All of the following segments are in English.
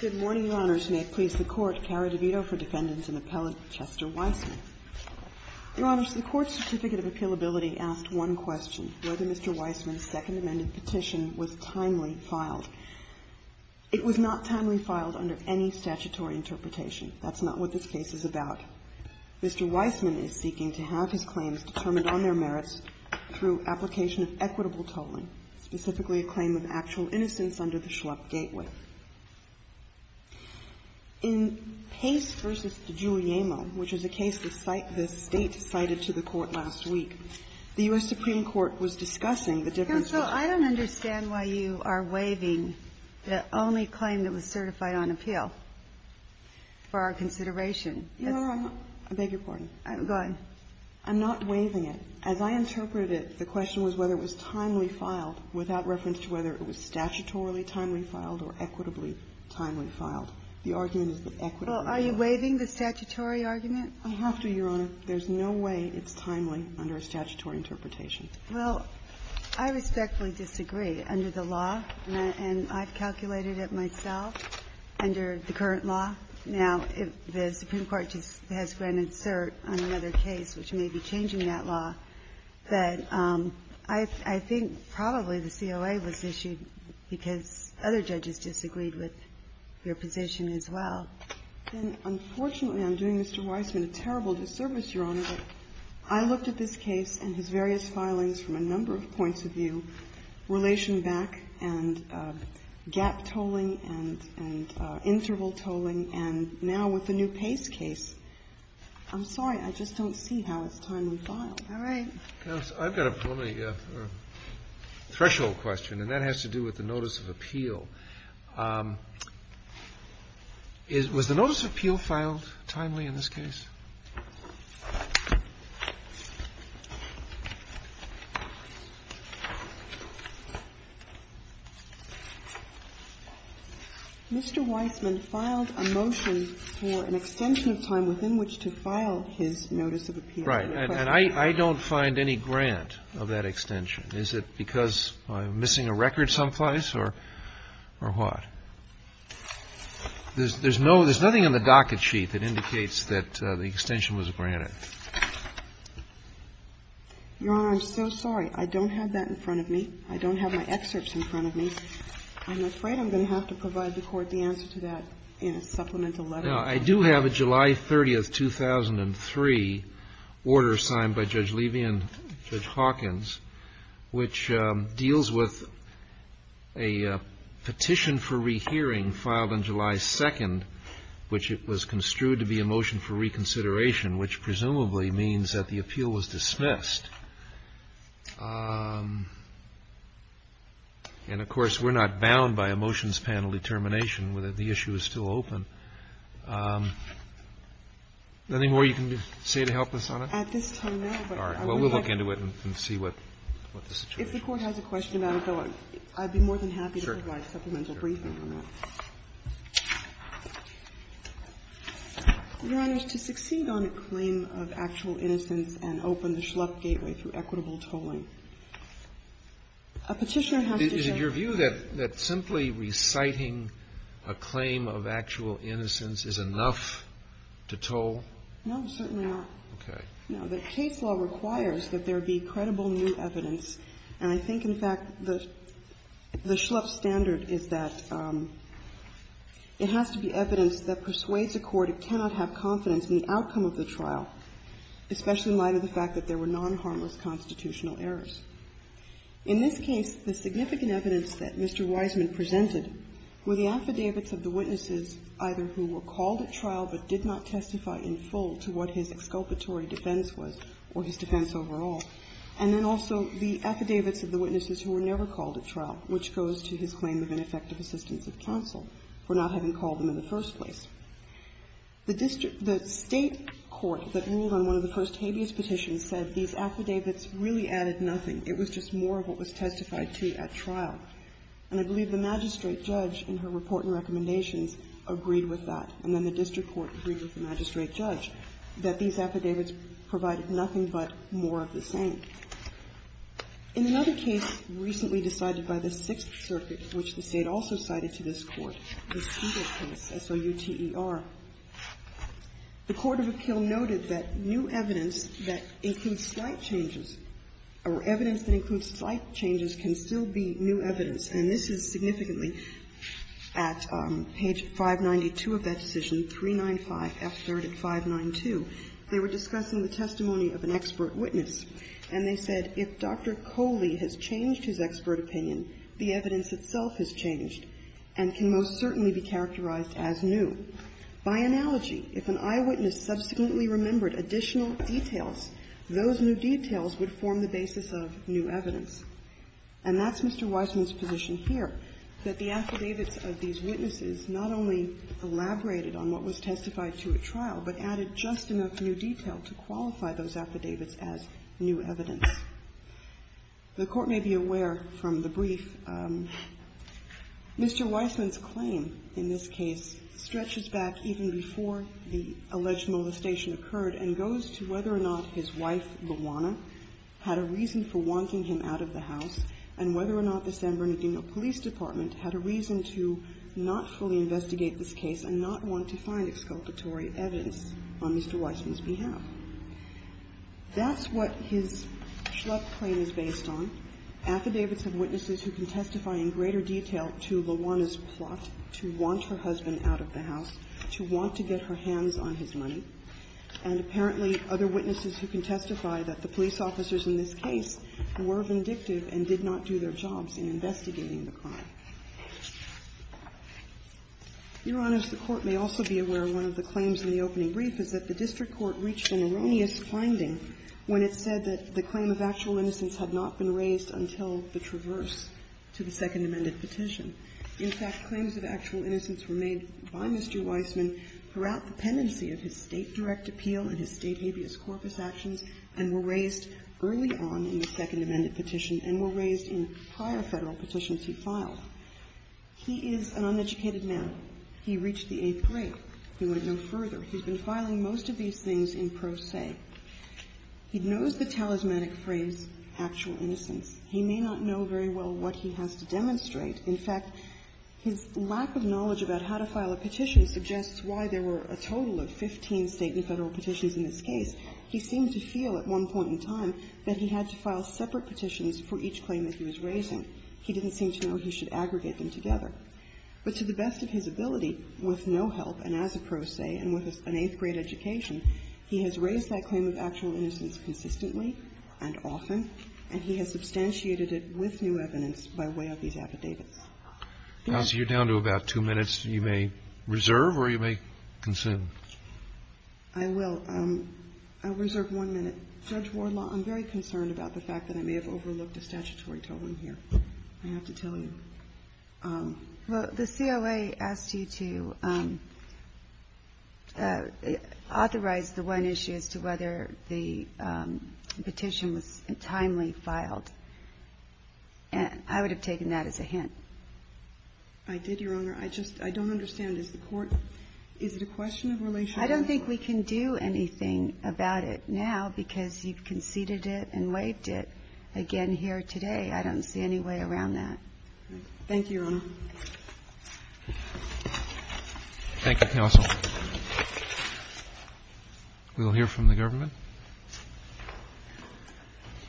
Good morning, Your Honors. May it please the Court, Carrie DeVito for defendants and appellate Chester Weisman. Your Honors, the Court's Certificate of Appealability asked one question, whether Mr. Weisman's Second Amendment petition was timely filed. It was not timely filed under any statutory interpretation. That's not what this case is about. Mr. Weisman is seeking to have his claims determined on their merits through application of equitable tolling, specifically a claim of actual innocence under the Schlupp gateway. In Pace v. DeGiuliemo, which is a case the State cited to the Court last week, the U.S. Supreme Court was discussing the difference between the two. I'm not waiving it. As I interpreted it, the question was whether it was timely filed, without reference to whether it was statutorily timely filed or equitably timely filed. The argument is that equitably filed. Well, are you waiving the statutory argument? I have to, Your Honor. There's no way it's timely under a statutory interpretation. Well, I respectfully disagree. Under the law, and I've calculated it myself, under the current law, now the Supreme Court has granted cert on another case which may be changing that law. But I think probably the COA was issued because other judges disagreed with your position as well. Unfortunately, I'm doing Mr. Weisman a terrible disservice, Your Honor. I looked at this case and his various filings from a number of points of view, relation back and gap tolling and interval tolling, and now with the new Pace case, I'm sorry. I just don't see how it's timely filed. All right. I've got a preliminary threshold question, and that has to do with the notice of appeal. Was the notice of appeal filed timely in this case? Mr. Weisman filed a motion for an extension of time within which to file his notice of appeal. Right. And I don't find any grant of that extension. Is it because I'm missing a record someplace or what? There's nothing on the docket sheet that indicates that the extension was granted. Your Honor, I'm so sorry. I don't have that in front of me. I don't have my excerpts in front of me. I'm afraid I'm going to have to provide the Court the answer to that in a supplemental letter. Now, I do have a July 30th, 2003, order signed by Judge Levy and Judge Hawkins which deals with a petition for rehearing filed on July 2nd, which it was construed to be a motion for reconsideration, which presumably means that the appeal was dismissed. And, of course, we're not bound by a motions panel determination whether the issue is still open. Is there anything more you can say to help us on it? At this time, no. All right. Well, we'll look into it and see what the situation is. If the Court has a question about it, though, I'd be more than happy to provide supplemental briefing on that. Your Honor, to succeed on a claim of actual innocence and open the Schlupf gateway through equitable tolling, a Petitioner has to judge. Is it your view that simply reciting a claim of actual innocence is enough to toll? No, certainly not. Okay. Now, the case law requires that there be credible new evidence. And I think, in fact, the Schlupf standard is that it has to be evidence that persuades a court it cannot have confidence in the outcome of the trial, especially in light of the fact that there were non-harmless constitutional errors. In this case, the significant evidence that Mr. Wiseman presented were the affidavits of the witnesses either who were called at trial but did not testify in full to what his exculpatory defense was or his defense overall. And then also the affidavits of the witnesses who were never called at trial, which goes to his claim of ineffective assistance of counsel for not having called them in the first place. The district the State court that ruled on one of the first habeas petitions said these affidavits really added nothing. It was just more of what was testified to at trial. And I believe the magistrate judge in her report and recommendations agreed with that, and then the district court agreed with the magistrate judge, that these affidavits provided nothing but more of the same. In another case recently decided by the Sixth Circuit, which the State also cited to this Court, the Souter case, S-O-U-T-E-R, the court of appeal noted that new evidence that includes slight changes or evidence that includes slight changes can still be new evidence. And this is significantly at page 592 of that decision, 395F3rd at 592. They were discussing the testimony of an expert witness, and they said, if Dr. Coley has changed his expert opinion, the evidence itself has changed and can most certainly be characterized as new. By analogy, if an eyewitness subsequently remembered additional details, those new details would form the basis of new evidence. And that's Mr. Weissman's position here, that the affidavits of these witnesses not only elaborated on what was testified to at trial, but added just enough new detail to qualify those affidavits as new evidence. The Court may be aware from the brief, Mr. Weissman's claim in this case stretches back even before the alleged molestation occurred and goes to whether or not his wife, Luana, had a reason for wanting him out of the house and whether or not the San Bernardino Police Department had a reason to not fully investigate this case and not want to find exculpatory evidence on Mr. Weissman's behalf. That's what his Schlupp claim is based on. Affidavits of witnesses who can testify in greater detail to Luana's plot to want her husband out of the house, to want to get her hands on his money, and apparently other witnesses who can testify that the police officers in this case were vindictive and did not do their jobs in investigating the crime. Your Honors, the Court may also be aware of one of the claims in the opening brief is that the district court reached an erroneous finding when it said that the claim of actual innocence had not been raised until the traverse to the Second Amendment petition. In fact, claims of actual innocence were made by Mr. Weissman throughout the pendency of his State direct appeal and his State habeas corpus actions and were raised early on in the Second Amendment petition and were raised in prior Federal petitions he filed. He is an uneducated man. He reached the eighth grade. He went no further. He's been filing most of these things in pro se. He knows the talismanic phrase, actual innocence. He may not know very well what he has to demonstrate. In fact, his lack of knowledge about how to file a petition suggests why there were a total of 15 State and Federal petitions in this case. He seemed to feel at one point in time that he had to file separate petitions for each claim that he was raising. He didn't seem to know he should aggregate them together. But to the best of his ability, with no help, and as a pro se, and with an eighth grade education, he has raised that claim of actual innocence consistently and often, and he has substantiated it with new evidence by way of these affidavits. Counsel, you're down to about two minutes. You may reserve, or you may consume. I will. I'll reserve one minute. Judge Wardlaw, I'm very concerned about the fact that I may have overlooked a statutory tolling here. I have to tell you. Well, the COA asked you to authorize the one issue as to whether the petition was timely filed. I would have taken that as a hint. I did, Your Honor. I just, I don't understand. Is the court, is it a question of relationship? I don't think we can do anything about it now because you conceded it and waived it again here today. I don't see any way around that. Thank you, Your Honor. Thank you, Counsel. We will hear from the government.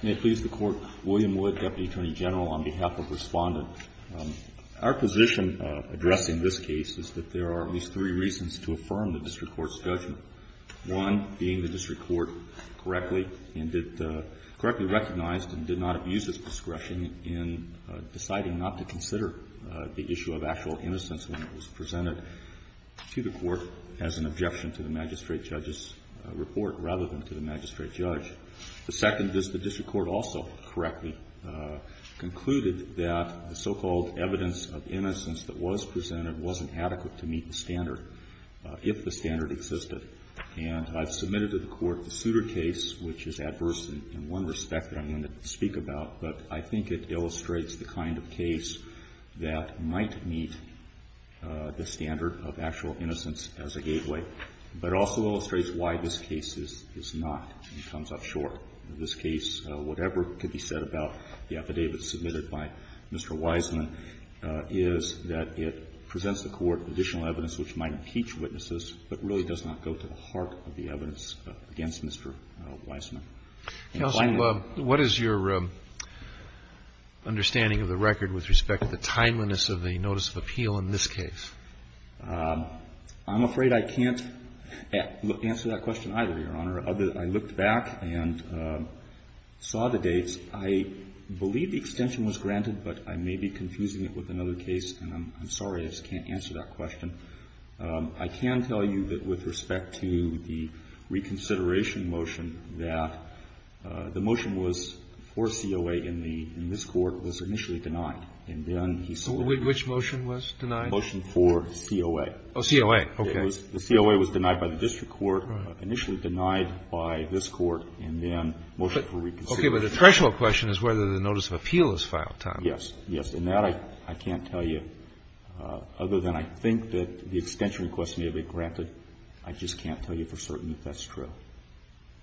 May it please the Court. William Wood, Deputy Attorney General, on behalf of Respondent. Our position addressing this case is that there are at least three reasons to affirm the district court's judgment. One being the district court correctly and did, correctly recognized and did not abuse its discretion in deciding not to consider the issue of actual innocence when it was presented to the court as an objection to the magistrate judge's judgment. The second is the district court also correctly concluded that the so-called evidence of innocence that was presented wasn't adequate to meet the standard, if the standard existed. And I've submitted to the court the Souter case, which is adverse in one respect that I'm going to speak about, but I think it illustrates the kind of case that might meet the standard of actual innocence as a gateway, but also illustrates why this case is not and comes up short. In this case, whatever could be said about the affidavit submitted by Mr. Wiseman is that it presents the court additional evidence which might impeach witnesses, but really does not go to the heart of the evidence against Mr. Wiseman. Counsel, what is your understanding of the record with respect to the timeliness of the notice of appeal in this case? I'm afraid I can't answer that question either, Your Honor. I looked back and saw the dates. I believe the extension was granted, but I may be confusing it with another case, and I'm sorry I just can't answer that question. I can tell you that with respect to the reconsideration motion that the motion was for COA in this court was initially denied, and then he submitted it. Which motion was denied? Motion for COA. Oh, COA. Okay. The COA was denied by the district court, initially denied by this court, and then motion for reconsideration. Okay, but the threshold question is whether the notice of appeal is filed, Tom. Yes. Yes, and that I can't tell you, other than I think that the extension request may have been granted. I just can't tell you for certain if that's true.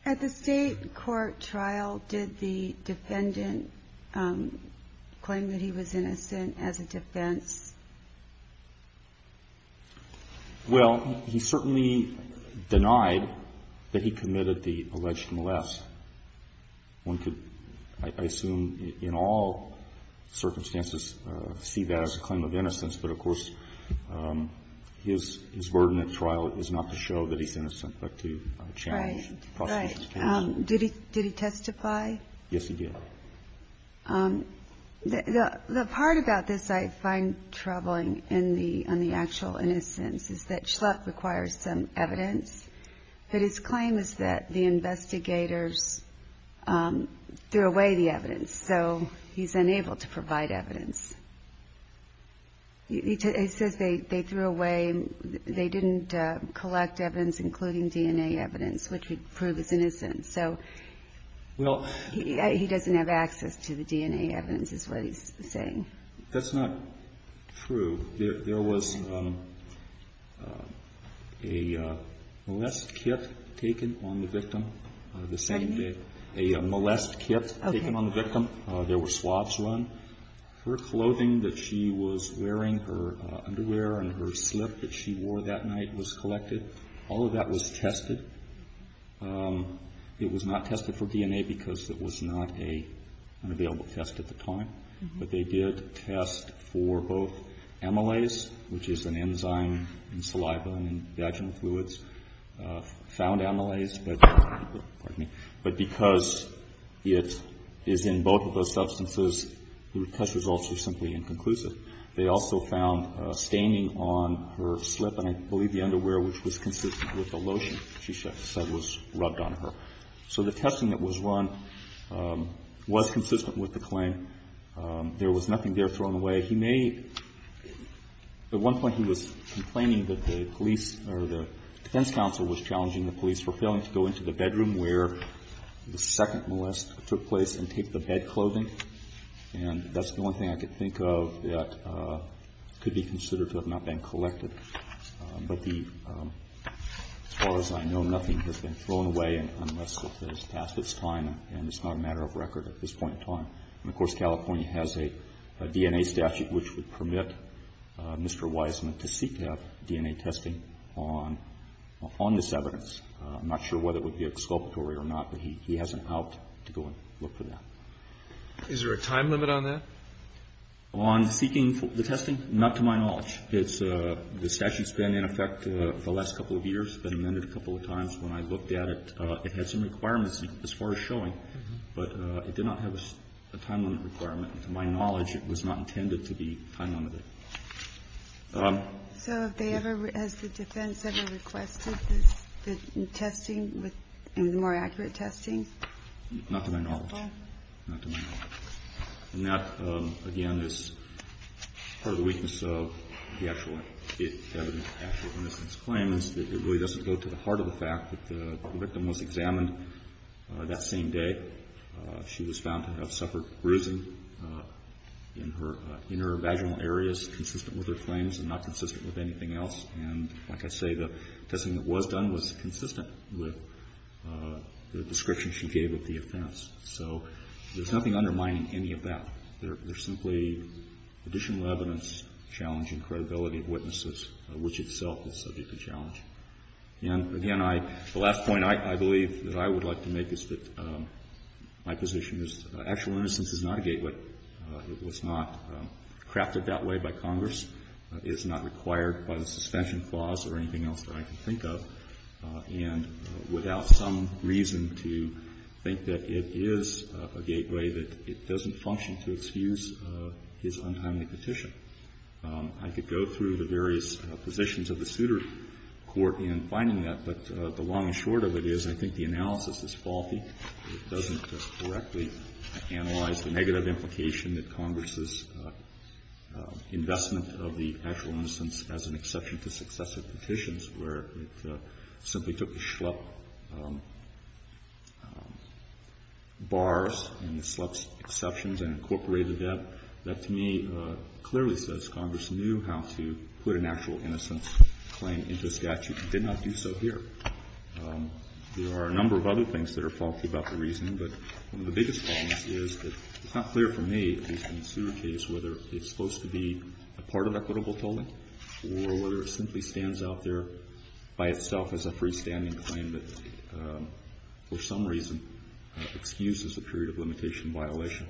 At the state court trial, did the defendant claim that he was innocent as a defense? Well, he certainly denied that he committed the alleged molest. One could, I assume, in all circumstances, see that as a claim of innocence, but of course, his burden of trial is not to show that he's innocent, but to challenge prosecution's claims. Right. Did he testify? Yes, he did. The part about this I find troubling on the actual innocence is that Schlupf requires some evidence, but his claim is that the investigators threw away the evidence, so he's unable to provide evidence. He says they threw away, they didn't collect evidence, including DNA evidence, which would prove his innocence, so he doesn't have access to the DNA evidence, is what he's saying. That's not true. There was a molest kit taken on the victim the same day. Pardon me? A molest kit taken on the victim. Okay. There were swabs run. Her clothing that she was wearing, her underwear and her slip that she wore that night was collected. All of that was tested. It was not tested for DNA because it was not an available test at the time, but they did test for both amylase, which is an enzyme in saliva and in vaginal fluids, found amylase, but, pardon me, but because it is in both of those substances, the test results were simply inconclusive. They also found staining on her slip, and I believe the underwear, which was consistent with the lotion she said was rubbed on her. So the testing that was run was consistent with the claim. There was nothing there thrown away. He may, at one point he was complaining that the police or the defense counsel was challenging the police for failing to go into the bedroom where the second molest took place and taped the bed clothing, and that's the only thing I could think of that could be considered to have not been collected. But as far as I know, nothing has been thrown away unless it's past its time, and, of course, California has a DNA statute which would permit Mr. Wiseman to seek to have DNA testing on this evidence. I'm not sure whether it would be exculpatory or not, but he has an out to go and look for that. Is there a time limit on that? On seeking the testing? Not to my knowledge. The statute's been in effect the last couple of years, been amended a couple of times. When I looked at it, it had some requirements as far as showing, but it did not have a time limit requirement. To my knowledge, it was not intended to be time limited. So have they ever, has the defense ever requested the testing, the more accurate testing? Not to my knowledge. Not to my knowledge. And that, again, is part of the weakness of the actual evidence in Mr. Wiseman's claim is that it really doesn't go to the heart of the fact that the victim was examined that same day. She was found to have suffered bruising in her vaginal areas consistent with her claims and not consistent with anything else. And like I say, the testing that was done was consistent with the description she gave of the offense. So there's nothing undermining any of that. There's simply additional evidence challenging credibility of witnesses, which itself is subject to challenge. And, again, I, the last point I believe that I would like to make is that my position is actual innocence is not a gateway. It was not crafted that way by Congress. It is not required by the suspension clause or anything else that I can think of. And without some reason to think that it is a gateway, that it doesn't function to excuse his untimely petition. I could go through the various positions of the suitor court in finding that, but the long and short of it is I think the analysis is faulty. It doesn't correctly analyze the negative implication that Congress's investment of the actual innocence as an exception to successive petitions where it simply took the Schlepp bars and the Schlepp exceptions and incorporated that. That, to me, clearly says Congress knew how to put an actual innocence claim into statute and did not do so here. There are a number of other things that are faulty about the reasoning, but one of the biggest problems is it's not clear for me, at least in the suitor case, whether it's supposed to be a part of equitable tolling or whether it simply stands out there by itself as a freestanding claim that, for some reason, excuses a period of limitation violation.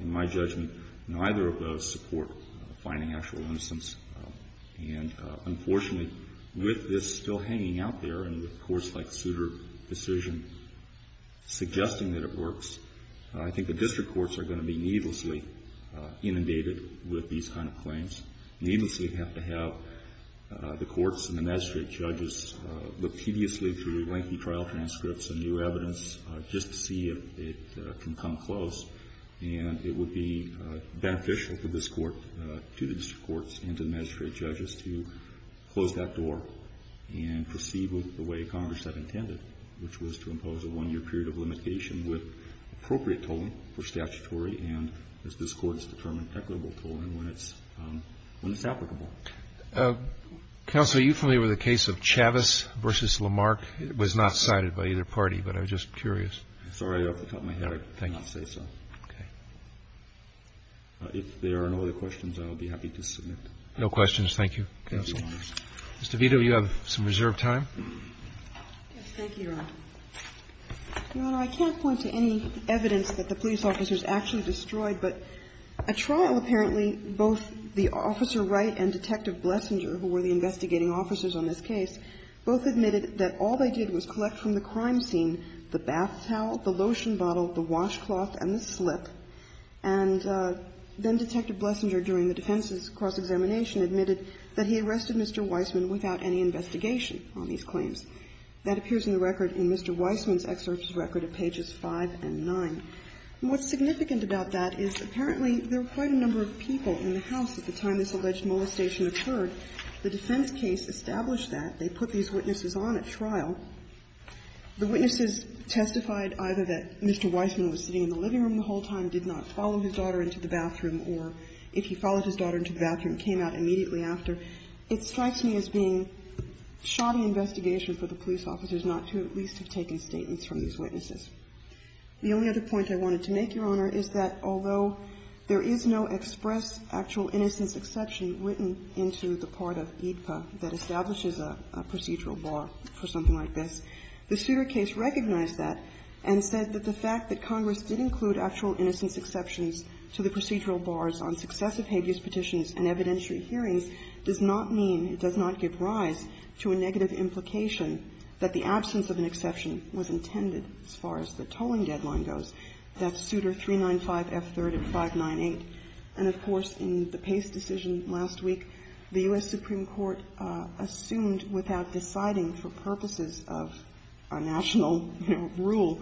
In my judgment, neither of those support finding actual innocence. And unfortunately, with this still hanging out there and the courts-like suitor decision suggesting that it works, I think the district courts are going to be needlessly inundated with these kind of claims, needlessly have to have the courts and the magistrate judges look tediously through lengthy trial transcripts and new evidence just to see if it can come close. And it would be beneficial for this Court, to the district courts and to the magistrate judges to close that door and proceed with the way Congress had intended, which was to impose a one-year period of limitation with appropriate tolling for statutory and, as this Court has determined, equitable tolling when it's applicable. Roberts. Counsel, you familiar with the case of Chavez v. Lamarck? It was not cited by either party, but I was just curious. Sorry, off the top of my head, I did not say so. Okay. If there are no other questions, I will be happy to submit. No questions. Thank you. Mr. Vito, you have some reserved time. Yes. Thank you, Your Honor. Your Honor, I can't point to any evidence that the police officers actually destroyed, but at trial, apparently, both the officer Wright and Detective Blesinger, who were the investigating officers on this case, both admitted that all they did was collect from the crime scene the bath towel, the lotion bottle, the washcloth, and the slip. And then Detective Blesinger, during the defense's cross-examination, admitted that he arrested Mr. Weissman without any investigation on these claims. That appears in the record in Mr. Weissman's excerpt's record at pages 5 and 9. And what's significant about that is, apparently, there were quite a number of people in the house at the time this alleged molestation occurred. The defense case established that. They put these witnesses on at trial. The witnesses testified either that Mr. Weissman was sitting in the living room the whole time, did not follow his daughter into the bathroom, or if he followed his daughter into the bathroom, came out immediately after. It strikes me as being shoddy investigation for the police officers not to at least have taken statements from these witnesses. The only other point I wanted to make, Your Honor, is that although there is no express actual innocence exception written into the part of AEDPA that establishes a procedural bar for something like this, the Souter case recognized that and said that the fact that Congress did include actual innocence exceptions to the procedural bars on successive habeas petitions and evidentiary hearings does not mean, it does not give rise to a negative implication that the absence of an exception was intended as far as the tolling deadline goes. That's Souter 395F3rd and 598. And, of course, in the Pace decision last week, the U.S. Supreme Court assumed without deciding for purposes of a national, you know, rule,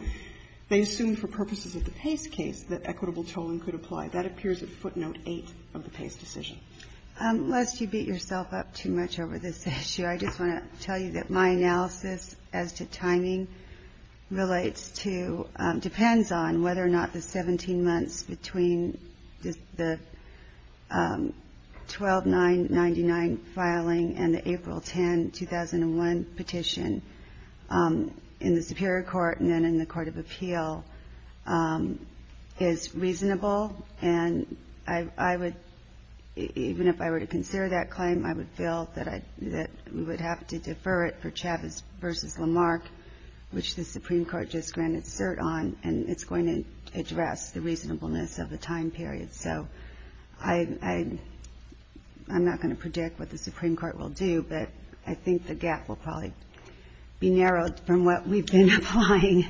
they assumed for purposes of the Pace case that equitable tolling could apply. That appears at footnote 8 of the Pace decision. Ginsburg. Unless you beat yourself up too much over this issue, I just want to tell you that my analysis as to timing relates to, depends on whether or not the 17 months between the 12-9-99 filing and the April 10, 2001 petition in the Superior Court and then in the Court of Appeal is reasonable. And I would, even if I were to consider that claim, I would feel that we would have to go back and look at the case of Chavez v. Lamarck, which the Supreme Court just granted cert on, and it's going to address the reasonableness of the time period. So I'm not going to predict what the Supreme Court will do, but I think the gap will probably be narrowed from what we've been applying.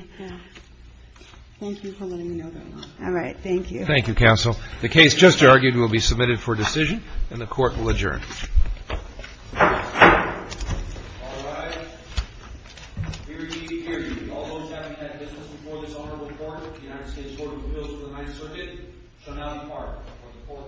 Thank you for letting me know that. All right. Thank you. Thank you, counsel. The case just argued will be submitted for decision, and the Court will adjourn. All rise. Hear ye, hear ye. All those having had business before this honorable court, the United States Court of Appeals for the Ninth Circuit shall now depart. The Court now stands adjourned.